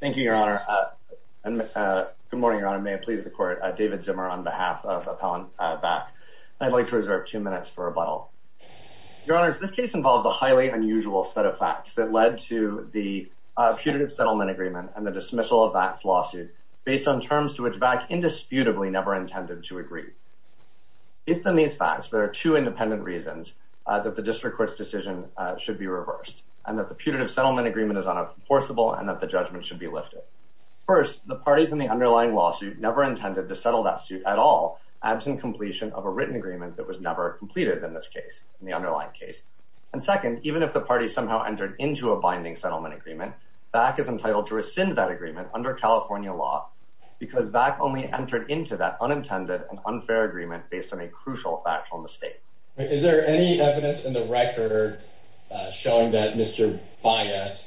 Thank you, Your Honor. Good morning, Your Honor. May it please the Court, David Zimmer on behalf of Appellant VACC. I'd like to reserve two minutes for rebuttal. Your Honors, this case involves a highly unusual set of facts that led to the putative settlement agreement and the dismissal of VACC's lawsuit based on terms to which VACC indisputably never intended to agree. Based on these facts, there are two independent reasons that the District Court's decision should be reversed, and that the putative settlement agreement is unenforceable and that the judgment should be lifted. First, the parties in the underlying lawsuit never intended to settle that suit at all, absent completion of a written agreement that was never completed in this case, in the underlying case. And second, even if the parties somehow entered into a binding settlement agreement, VACC is entitled to rescind that agreement under California law because VACC only entered into that unintended and unfair agreement based on a crucial factual mistake. Is there any evidence in the record showing that Mr. Byatt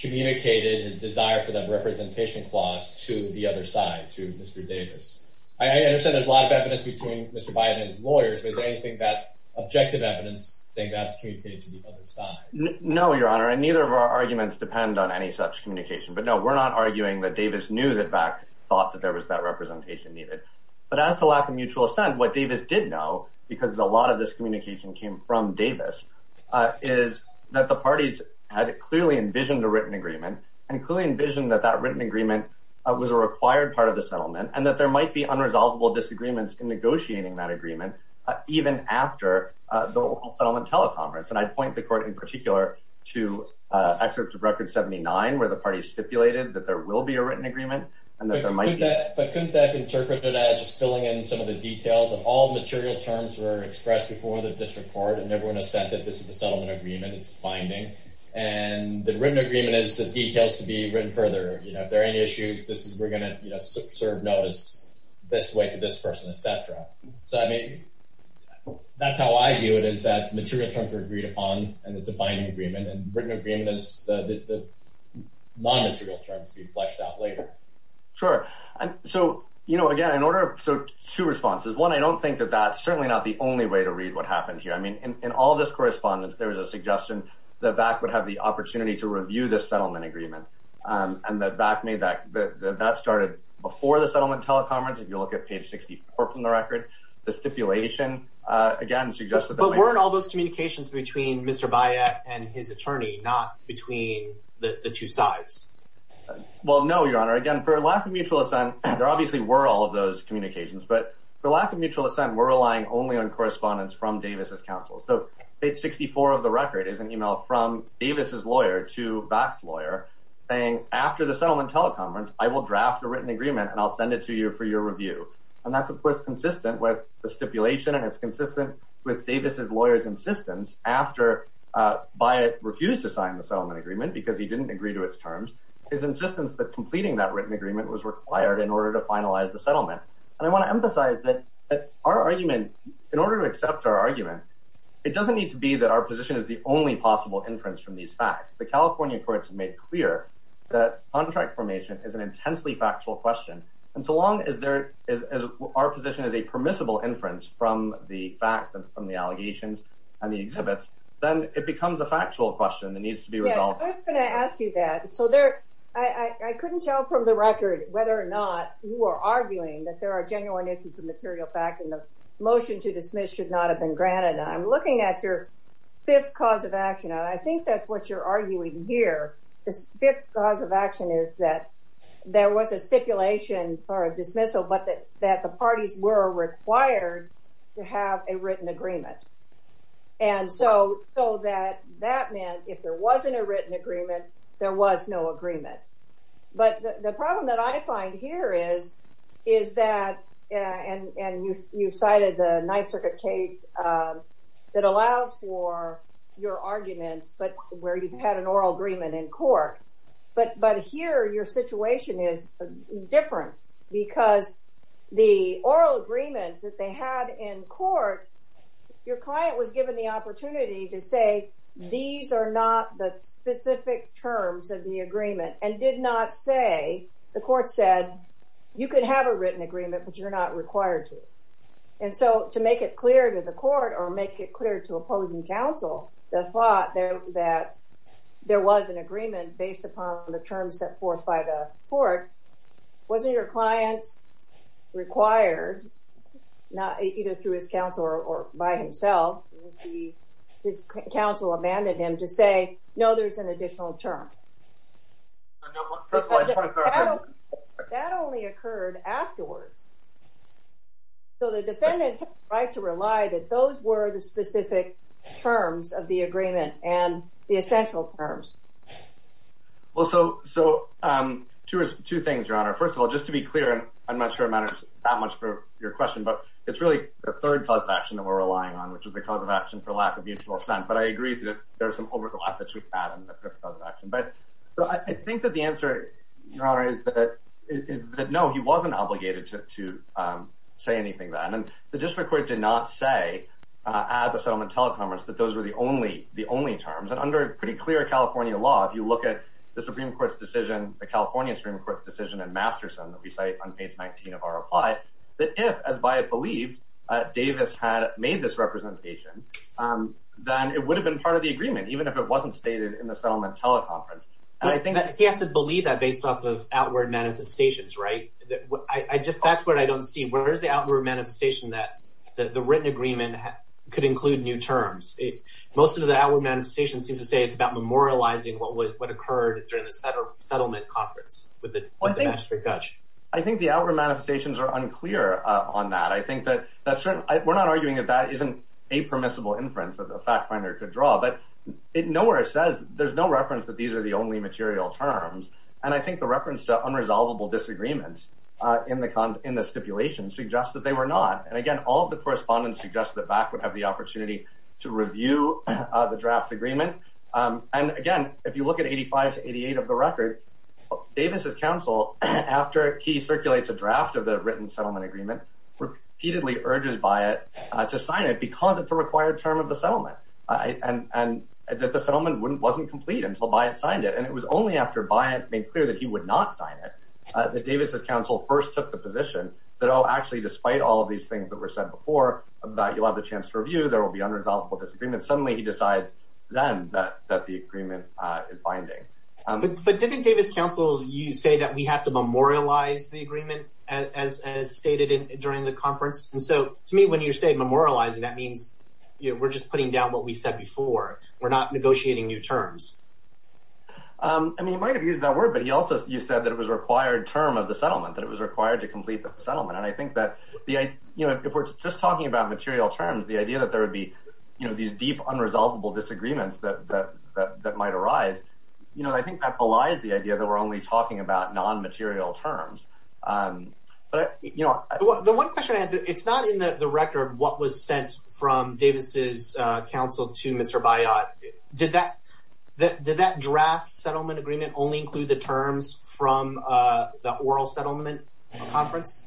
communicated his desire for the representation clause to the other side, to Mr. Davis? I understand there's a lot of evidence between Mr. Byatt and his lawyers, but is there anything that objective evidence saying that's communicated to the other side? No, Your Honor, and neither of our arguments depend on any such communication. But no, we're not arguing that Davis knew that VACC thought that there was that representation needed. But as to lack of mutual assent, what Davis did know, because a lot of this communication came from Davis, is that the parties had clearly envisioned a written agreement, and clearly envisioned that that written agreement was a required part of the settlement, and that there might be unresolvable disagreements in negotiating that agreement, even after the local settlement teleconference. And I'd point the Court in particular to excerpt of Record 79, where the parties stipulated that there will be a written agreement, and that there might be. But couldn't that interpret it as just filling in some of the court, and everyone has said that this is a settlement agreement, it's binding, and the written agreement is the details to be written further. You know, if there are any issues, this is, we're going to, you know, serve notice this way to this person, etc. So, I mean, that's how I view it, is that material terms are agreed upon, and it's a binding agreement, and written agreement is the non-material terms to be fleshed out later. Sure. And so, you know, again, in order of, so two responses. One, I don't think that that's certainly not the only way to read what happened here. I mean, in all this correspondence, there was a suggestion that VAC would have the opportunity to review this settlement agreement, and that VAC made that, that started before the settlement teleconference. If you look at page 64 from the Record, the stipulation, again, suggests that... But weren't all those communications between Mr. Bayek and his attorney, not between the two sides? Well, no, Your Honor. Again, for lack of mutual assent, there obviously were all of those communications, but for lack of correspondence from Davis' counsel. So, page 64 of the Record is an email from Davis' lawyer to VAC's lawyer saying, after the settlement teleconference, I will draft a written agreement, and I'll send it to you for your review. And that's, of course, consistent with the stipulation, and it's consistent with Davis' lawyer's insistence after Bayek refused to sign the settlement agreement because he didn't agree to its terms, his insistence that completing that written agreement was required in order to finalize the settlement. And I want to emphasize that our argument, in order to accept our argument, it doesn't need to be that our position is the only possible inference from these facts. The California courts have made clear that contract formation is an intensely factual question, and so long as our position is a permissible inference from the facts and from the allegations and the exhibits, then it becomes a factual question that needs to be resolved. Yeah, I was going to ask you that. So, I couldn't tell from the Record whether or not you are arguing that there are genuine incidents of material fact and the motion to dismiss should not have been granted. I'm looking at your fifth cause of action, and I think that's what you're arguing here. This fifth cause of action is that there was a stipulation for a dismissal, but that the parties were required to have a written agreement. And so, so that that meant if there wasn't a written agreement, there was no agreement. But the point here is, is that, and you cited the Ninth Circuit case that allows for your argument, but where you've had an oral agreement in court, but here your situation is different because the oral agreement that they had in court, your client was given the opportunity to say, these are not the specific terms of the agreement, and did not say, the court said, you could have a written agreement, but you're not required to. And so, to make it clear to the court or make it clear to opposing counsel, the thought that there was an agreement based upon the terms set forth by the court, wasn't your client required, either through his counsel or by himself? His counsel abandoned him to say, no, there's an additional term. That only occurred afterwards. So the defendants have the right to rely that those were the specific terms of the agreement and the essential terms. Well, so two things, Your Honor. First of all, just to be clear, and I'm not sure it matters that much for your question, but it's really the third cause of action that we're relying on, which is the cause of action for lack of mutual assent. But I agree that there's some overlap between that and the third cause of action. But I think that the answer, Your Honor, is that no, he wasn't obligated to say anything then. And the district court did not say at the settlement teleconference that those were the only terms. And under pretty clear California law, if you look at the Supreme Court's decision, the California Supreme Court's decision in Masterson that we cite on page 19 of our reply, that if, as Bayek believed, Davis had made this representation, then it would have been part of the agreement, even if it wasn't stated in the settlement teleconference. He has to believe that based off of outward manifestations, right? That's what I don't see. Where is the outward manifestation that the written agreement could include new terms? Most of the outward manifestations seem to say it's about memorializing what occurred during the settlement conference with the magistrate judge. I think the outward manifestations are unclear on that. We're not arguing that that isn't a permissible inference that a fact finder could draw, but nowhere it says there's no reference that these are the only material terms. And I think the reference to unresolvable disagreements in the stipulation suggests that they were not. And again, all of the correspondence suggests that BAK would have the opportunity to review the draft agreement. And again, if you look at 85 to 88 of the record, Davis's counsel, after he circulates a draft of the written settlement agreement, repeatedly urges Bayek to sign it because it's a required term of the settlement and that the settlement wasn't complete until Bayek signed it. And it was only after Bayek made clear that he would not sign it that Davis's counsel first took the position that, oh, actually, despite all of these things that were said before about you'll have the that the agreement is binding. But didn't Davis's counsel, you say that we have to memorialize the agreement as stated during the conference? And so to me, when you say memorializing, that means we're just putting down what we said before. We're not negotiating new terms. I mean, he might have used that word, but he also, you said that it was a required term of the settlement, that it was required to complete the settlement. And I think that if we're just talking about material terms, the idea that there would be these deep, unresolvable disagreements that might arise, I think that belies the idea that we're only talking about non-material terms. The one question I had, it's not in the record what was sent from Davis's counsel to Mr. Bayek. Did that draft settlement agreement only include the terms from the oral settlement conference?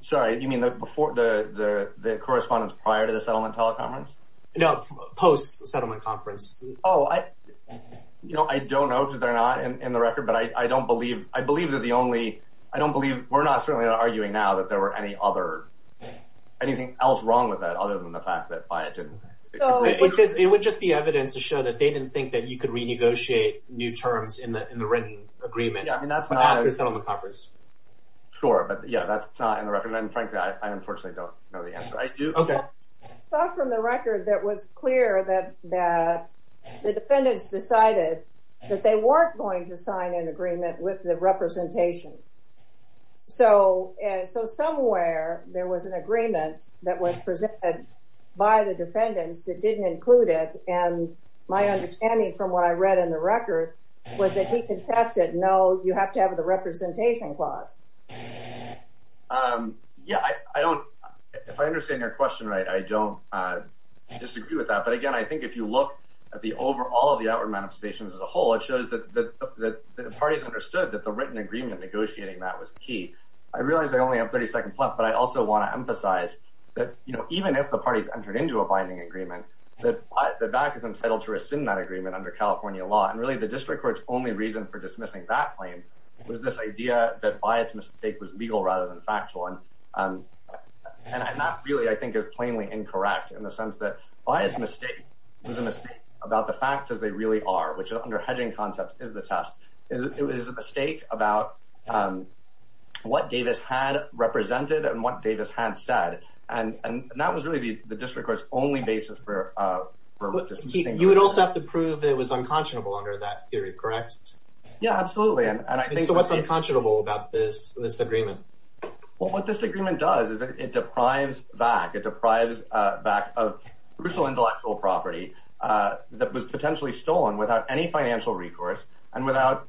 Sorry, you mean the correspondence prior to the settlement teleconference? No, post-settlement conference. Oh, I don't know because they're not in the record, but I don't believe, I believe that the only, I don't believe, we're not certainly arguing now that there were any other, anything else wrong with that other than the fact that Bayek didn't. It would just be evidence to show that they didn't think that you could renegotiate new terms in the written agreement after the settlement conference. Sure, but yeah, that's not in the record, and frankly, I unfortunately don't know the answer. I do, okay. Apart from the record, that was clear that the defendants decided that they weren't going to sign an agreement with the representation. So, somewhere there was an agreement that was presented by the defendants that didn't include it, and my understanding from what I read in the record was that he contested, no, you have to have the representation clause. Yeah, I don't, if I understand your question right, I don't disagree with that, but again, I think if you look at the overall, the outward manifestations as a whole, it shows that the parties understood that the written agreement negotiating that was key. I realize I only have 30 seconds left, but I also want to emphasize that, you know, even if the parties entered into a binding agreement, that Bayek is entitled to rescind that agreement under California law, and really the district court's only reason for dismissing that claim was this idea that Bayek's mistake was legal rather than factual, and that really, I think, is plainly incorrect in the sense that Bayek's mistake was a mistake about the facts as they really are, which under hedging concepts is the test. It was a mistake about what Davis had represented and what Davis had said, and that was really the district court's only basis for dismissing that. You would also have to prove that it was unconscionable under that theory, correct? Yeah, absolutely, and I think... So what's unconscionable about this agreement? Well, what this agreement does is it deprives back, it deprives back of crucial intellectual property that was potentially stolen without any financial recourse, and without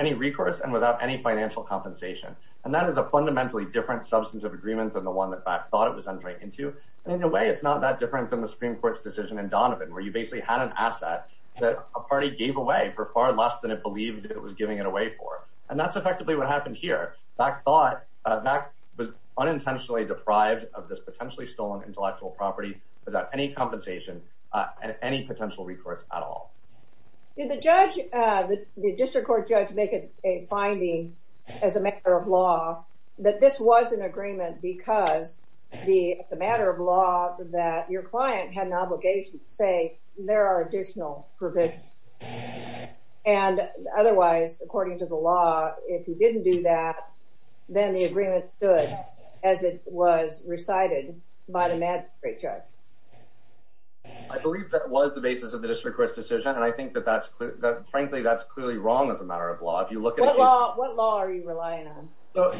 any recourse, and without any financial compensation, and that is a fundamentally different substance of agreement than the one that Bayek thought it was entering into, and in a way, it's not that different from the Supreme Court's decision in Donovan, where you basically had an asset that a party gave away for far less than it believed it was giving it away for, and that's effectively what happened here. Back thought, back was unintentionally deprived of this potentially stolen intellectual property without any compensation and any potential recourse at all. Did the judge, the district court judge, make a finding as a matter of law that this was an agreement because the matter of law that your client had an obligation to say, there are additional provisions, and otherwise, according to the law, if you didn't do that, then the agreement stood as it was recited by the magistrate judge? I believe that was the basis of the district court's decision, and I think that that's frankly, that's clearly wrong as a matter of law. If you look at... What law are you relying on?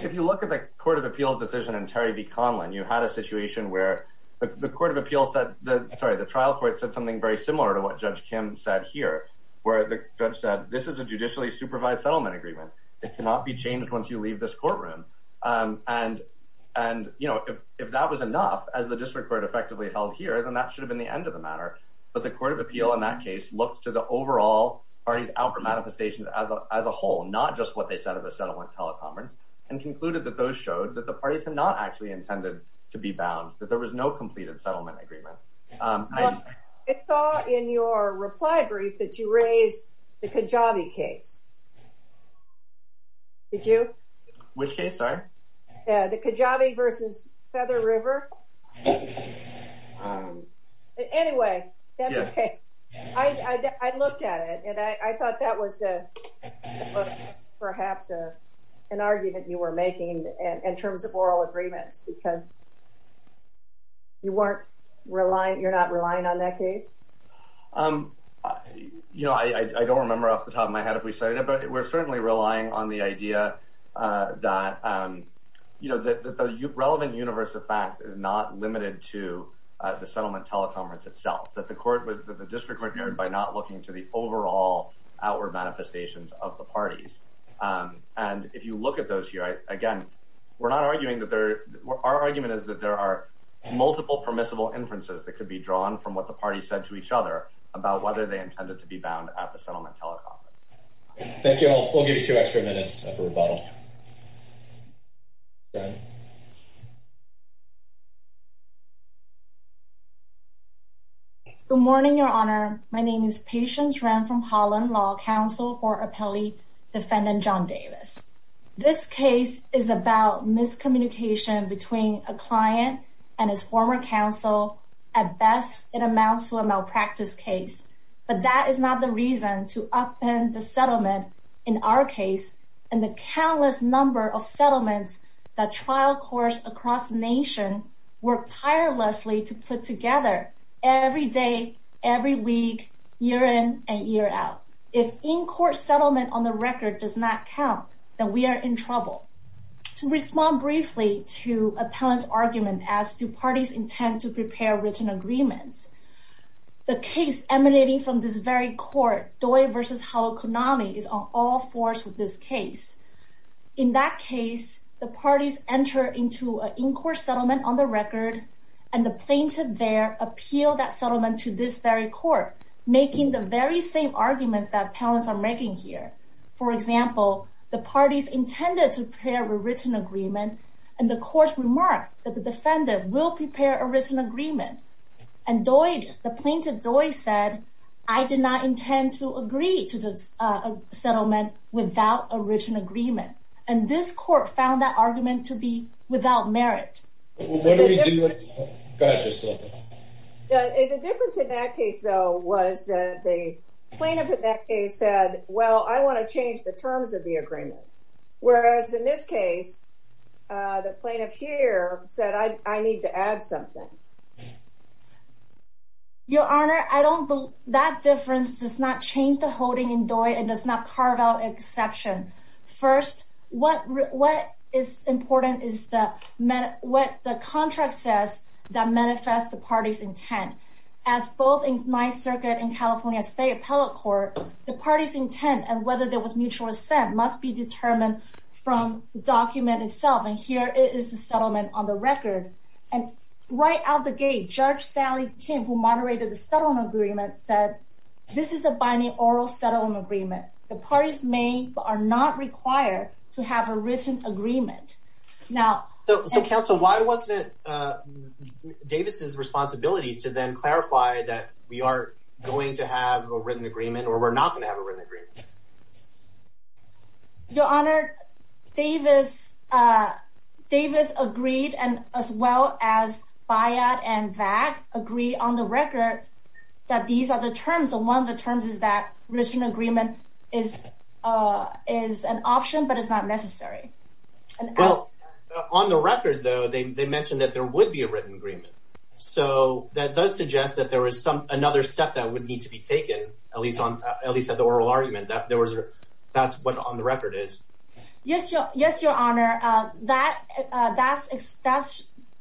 If you look at the Court of Appeals' decision in Terry v. Conlin, you had a situation where the Court of Appeals said, sorry, the trial court said something very similar to what Judge Kim said here, where the judge said, this is a judicially supervised settlement agreement. It cannot be changed once you leave this courtroom, and if that was enough, as the district court effectively held here, then that should have been the end of the matter, but the Court of Appeal in that case looked to the overall parties' outward manifestations as a whole, not just what they said at the settlement teleconference, and concluded that those showed that the parties had not actually intended to be bound, that there was no completed settlement agreement. I saw in your reply brief that you raised the Kajabi case. Did you? Which case, sorry? The Kajabi v. Feather River. Anyway, that's okay. I looked at it, and I thought that was perhaps an argument you were making in terms of oral agreements, because you're not relying on that case? You know, I don't remember off the top of my head if we cited it, but we're certainly relying on the idea that the relevant universe of facts is not limited to the settlement teleconference itself, that the district court heard by not looking to the overall outward manifestations of the parties, and if you look at those here, again, we're not arguing that there, our argument is that there are multiple permissible inferences that could be drawn from what the parties said to each other about whether they intended to be bound at the settlement teleconference. Thank you. I'll give you two extra minutes after rebuttal. Good morning, Your Honor. My name is Patience Ren from Holland Law Council for Appellee Defendant John Davis. This case is about miscommunication between a client and his former counsel. At best, it amounts to a malpractice case, but that is not the reason to upend the settlement in our case and the countless number of settlements that trial courts across the nation work tirelessly to put together every day, every week, year in, and year out. If in-court settlement on the record does not count, then we are in trouble. To respond briefly to appellant's argument as to parties' intent to prepare written agreements, the case emanating from this very court, Doi v. Halokunami, is on all fours with this case. In that case, the parties enter into an in-court settlement on the record, and the plaintiff there appealed that settlement to this very court, making the very same arguments that appellants are making here. For example, the parties intended to prepare a written agreement, and the courts remarked that the defendant will prepare a written agreement. And Doi, the plaintiff, Doi said, I did not intend to agree to this settlement without a written agreement, and this court found that argument to be without merit. What do we do? Go ahead. The difference in that case, though, was that the plaintiff in that case said, well, I want to change the terms of the agreement, whereas in this case, the plaintiff here said, I need to add something. Your Honor, I don't believe that difference does not change the holding in Doi and does not carve out exception. First, what is important is what the contract says that manifests the parties' intent. As both in my circuit and California State Appellate Court, the parties' intent and whether there was mutual assent must be determined from the document itself. And here is the settlement on the record. And right out the gate, Judge Sally Kim, who moderated the settlement agreement, said, this is a binding oral settlement agreement. The parties may or are not required to have a written agreement. So, counsel, why wasn't Davis's responsibility to then clarify that we are going to have a written agreement or we're not going to have a written agreement? Your Honor, Davis agreed, as well as Bayard and Vag, agreed on the record that these are the terms. And one of the terms is that written agreement is an option, but it's not necessary. Well, on the record, though, they mentioned that there would be a written agreement. So that does suggest that there was another step that would need to be taken, at least at the oral argument. That's what on the record is. Yes, Your Honor. That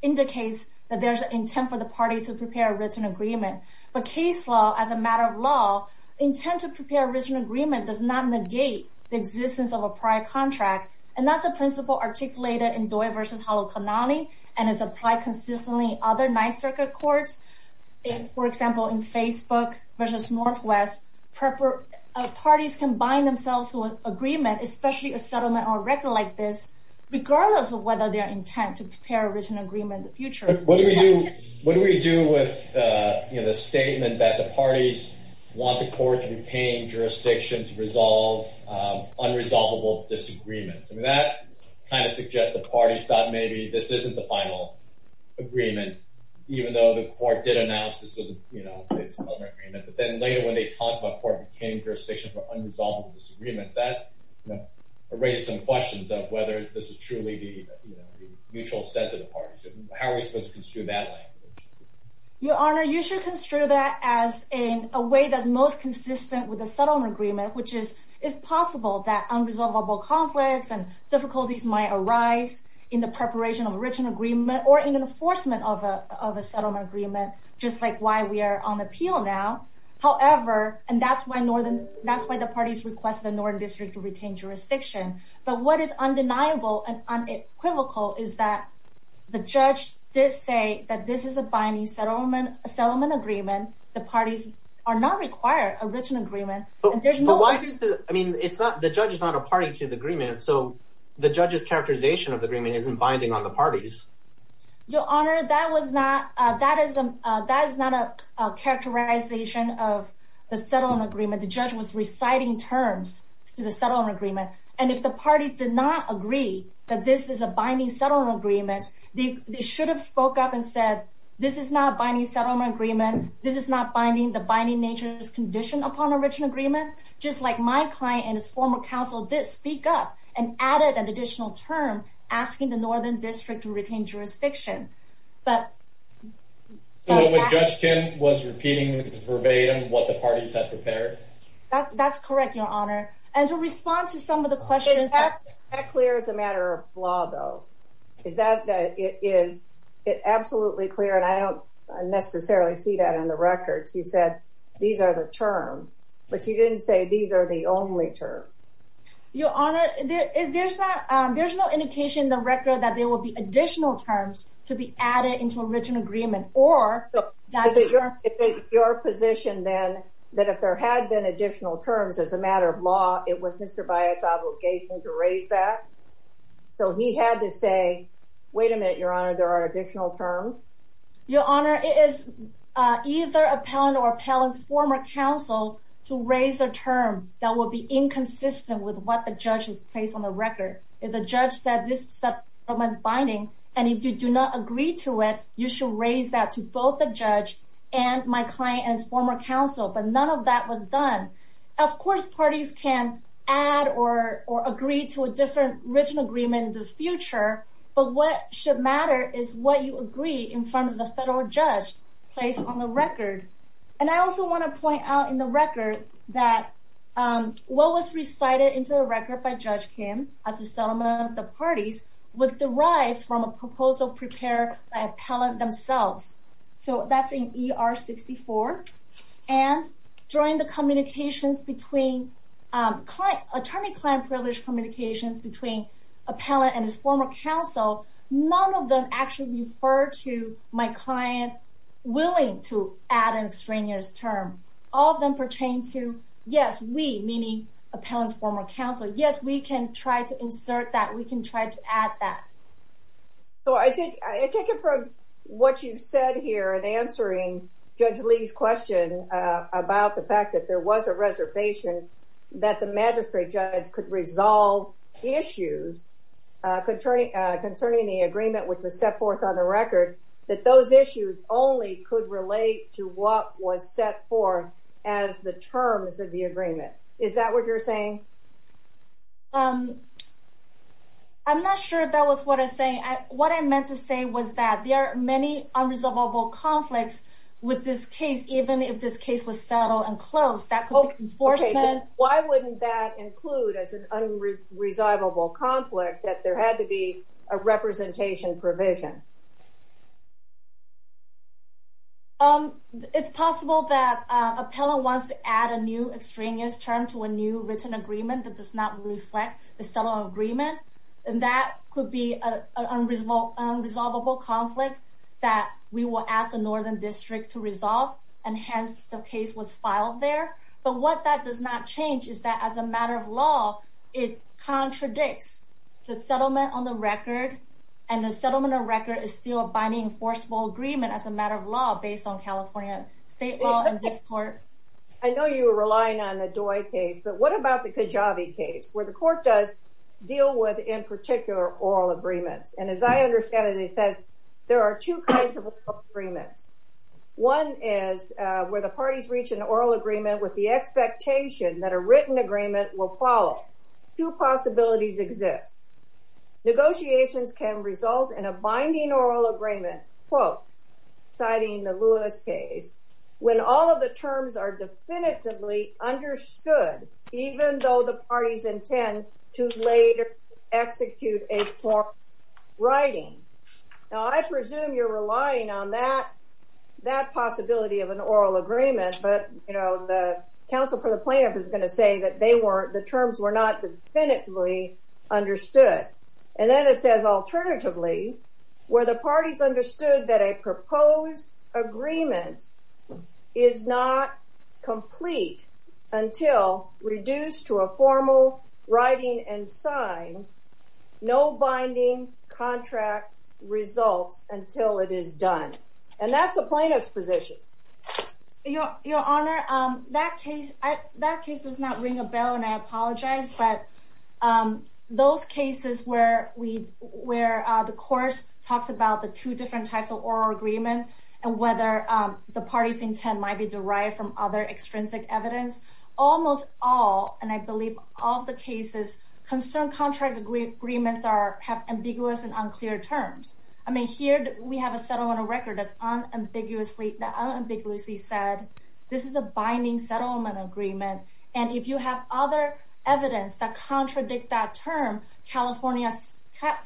indicates that there's an intent for the parties to prepare a written agreement. But case law, as a matter of law, intent to prepare a written agreement does not negate the existence of a prior contract. And that's a principle articulated in Doi v. Prepper. Parties can bind themselves to an agreement, especially a settlement or a record like this, regardless of whether their intent to prepare a written agreement in the future. But what do we do with the statement that the parties want the court to retain jurisdiction to resolve unresolvable disagreements? I mean, that kind of suggests the parties thought maybe this isn't the final agreement, even though the court did announce this was a settlement agreement. But then later, when they talk about court retaining jurisdiction for unresolvable disagreement, that raises some questions of whether this is truly the mutual set of the parties. How are we supposed to construe that language? Your Honor, you should construe that as in a way that's most consistent with a settlement agreement, which is, it's possible that unresolvable conflicts and difficulties might arise in the preparation of a written agreement or in enforcement of a settlement agreement, just like why we are on the appeal now. However, and that's why the parties request the Northern District to retain jurisdiction. But what is undeniable and unequivocal is that the judge did say that this is a binding settlement agreement. The parties are not required a written agreement. I mean, the judge is not a party to the agreement, so the judge's characterization of the parties. Your Honor, that is not a characterization of the settlement agreement. The judge was reciting terms to the settlement agreement, and if the parties did not agree that this is a binding settlement agreement, they should have spoke up and said this is not binding settlement agreement. This is not binding the binding nature's condition upon original agreement. Just like my client and his former counsel did speak up and added an additional term asking the Northern District to retain jurisdiction. So what Judge Kim was repeating was verbatim what the parties had prepared? That's correct, Your Honor. And to respond to some of the questions... Is that clear as a matter of law though? Is that that it is it absolutely clear and I don't necessarily see that in the records. You said these are the terms, but you didn't say these are the only terms. Your Honor, there's no indication in the record that there will be additional terms to be added into original agreement or... Is it your position then that if there had been additional terms as a matter of law, it was Mr. Byatt's obligation to raise that? So he had to say, wait a minute, Your Honor, there are additional terms? Your Honor, it is either appellant or appellant's former counsel to raise a term that will be inconsistent with what the judge has placed on the record. If the judge said this settlement is binding and if you do not agree to it, you should raise that to both the judge and my client and his former counsel. But none of that was done. Of course, parties can add or agree to a different written agreement in the future, but what should matter is what you agree in front of the federal judge placed on the record. And I also want to point out in the record that what was recited into the record by Judge Kim as a settlement of the parties was derived from a proposal prepared by appellant themselves. So that's in ER 64. And during the communications between attorney-client privilege communications between appellant and his former counsel, none of them actually refer to my client willing to add an extraneous term. All of them pertain to yes, we, meaning appellant's former counsel. Yes, we can try to insert that. We can try to add that. So I take it from what you've said here in answering Judge Lee's question about the fact that there was a reservation that the magistrate judge could resolve issues concerning the agreement which was set forth on the record, that those issues only could relate to what was set forth as the terms of the agreement. Is that what you're saying? I'm not sure that was what I'm saying. What I meant to say was that there are many unresolvable conflicts with this case, even if this case was settled and closed. Why wouldn't that include as an unresolvable conflict that there had to be a representation provision? It's possible that appellant wants to add a new extraneous term to a new written agreement that does not reflect the settlement agreement, and that could be an unresolvable conflict that we will ask the Northern District to resolve and hence the case was filed there. But what that does not change is that as a matter of law, it contradicts the settlement on the record, and the settlement of record is still a binding enforceable agreement as a matter of law based on California state law in this court. I know you were relying on the Doi case, but what about the Kajave case where the court does deal with, in particular, oral agreements? And as I understand it, it says there are two kinds of agreements. One is where the parties reach an oral agreement with the expectation that a written agreement will follow. Two possibilities exist. Negotiations can result in a binding oral agreement, quote, citing the Lewis case, when all of the terms are definitively understood, even though the parties intend to later execute a formal writing. Now, I presume you're relying on that possibility of an oral agreement, but, you know, the counsel for the plaintiff is going to say that the terms were not definitively understood. And then it says, alternatively, where the parties writing and sign, no binding contract results until it is done. And that's the plaintiff's position. Your Honor, that case does not ring a bell, and I apologize, but those cases where the court talks about the two different types of oral agreement and whether the party's intent might be derived from other extrinsic evidence, almost all, and I believe all of the cases, concern contract agreements have ambiguous and unclear terms. I mean, here we have a settlement record that unambiguously said this is a binding settlement agreement, and if you have other evidence that contradict that term, California,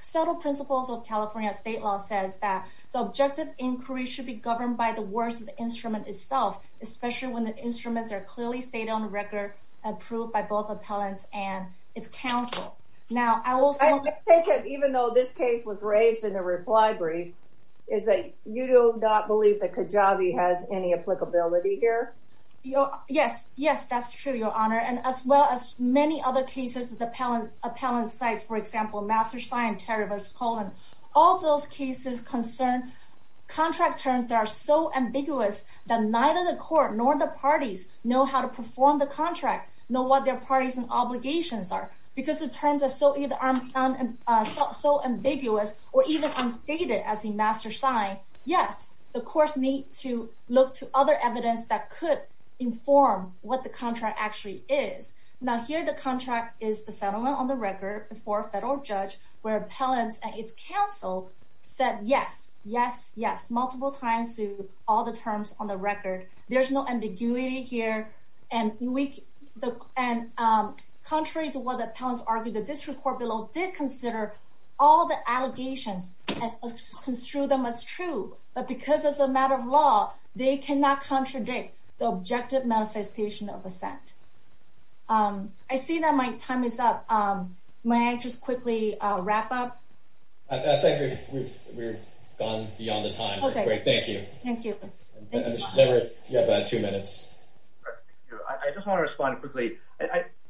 settled principles of California state law says the objective inquiry should be governed by the words of the instrument itself, especially when the instruments are clearly stated on the record, approved by both appellants and its counsel. Now, I will say, even though this case was raised in the reply brief, is that you do not believe that Kajabi has any applicability here? Yes, yes, that's true, Your Honor. And as well as many other cases of the appellant sites, for example, Master Sign, Terry versus Colon, all those cases concern contract terms that are so ambiguous that neither the court nor the parties know how to perform the contract, know what their parties and obligations are, because the terms are so ambiguous or even unstated as in Master Sign. Yes, the courts need to look to other evidence that could inform what the contract actually is. Now, here the contract is the settlement on the record before a federal judge, where appellants and its counsel said yes, yes, yes, multiple times to all the terms on the record. There's no ambiguity here. And contrary to what the appellants argued, the district court below did consider all the allegations and construed them as true. But because it's a matter of law, they cannot contradict the objective manifestation of assent. I see that my time is up. May I just quickly wrap up? I think we've gone beyond the time. Okay, great. Thank you. Thank you. You have two minutes. I just want to respond quickly.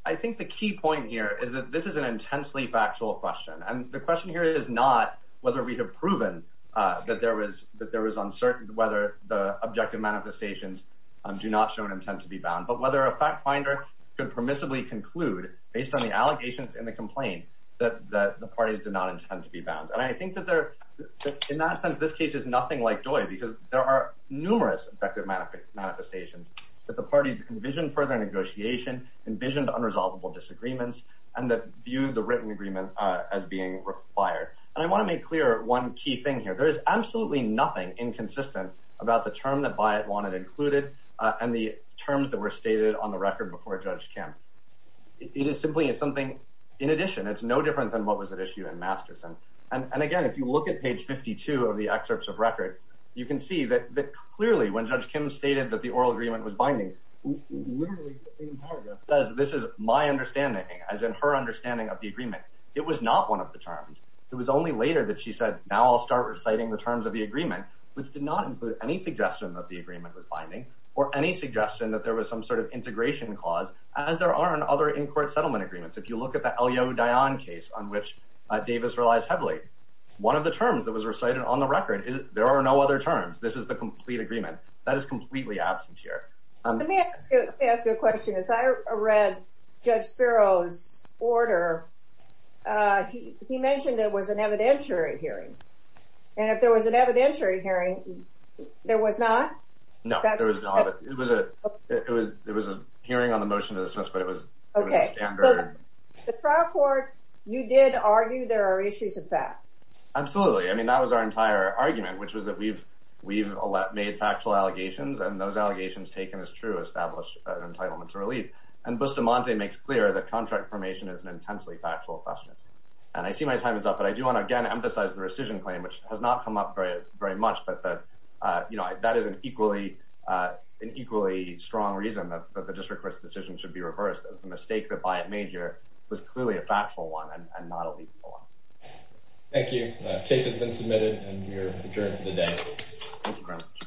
I think the key point here is that this is an intensely factual question. And the question here is not whether we have proven that there was uncertain whether the objective manifestations do not show an intent to be bound, but whether a fact finder could permissibly conclude based on the allegations in the complaint that the parties do not intend to be bound. And I think that in that sense, this case is nothing like DOI, because there are numerous effective manifestations that the parties envisioned further negotiation, envisioned unresolvable disagreements, and that view the written agreement as being required. And I want to make clear one key thing here. There is absolutely nothing inconsistent about the term that Byatt wanted included and the terms that were stated on the record before Judge Kim. It is simply something, in addition, it's no different than what was at issue in Masterson. And again, if you look at page 52 of the excerpts of record, you can see that clearly when Judge Kim stated that the oral agreement was binding, literally the same paragraph says, this is my understanding, as in her understanding of the agreement. It was not one of the terms. It was only later that she said, now I'll start reciting the terms of the agreement, which did not include any suggestion that the agreement was binding or any suggestion that there was some sort of integration clause, as there are in other in-court settlement agreements. If you look at the Elio Dion case on which Davis relies heavily, one of the terms that was recited on the record is there are no other terms. This is the complete agreement that is completely absent here. Let me ask you a question. As I read Judge Spiro's order, he mentioned there was an evidentiary hearing. And if there was an evidentiary hearing, there was not? No, there was not. It was a hearing on the motion to dismiss, but it was standard. The trial court, you did argue there are issues of fact. Absolutely. I mean, that was our entire argument, which was that we've made factual allegations, and those allegations taken as true establish an entitlement to relief. And Bustamante makes clear that contract formation is an intensely factual question. And I see my time is up, but I do want to again emphasize the rescission claim, which has not come up very much, but that is an equally strong reason that the district court's decision should be reversed as the mistake that Byatt made here was clearly a factual one and not a legal one. Thank you. The case has been submitted, and we are adjourned for the day. Thank you very much.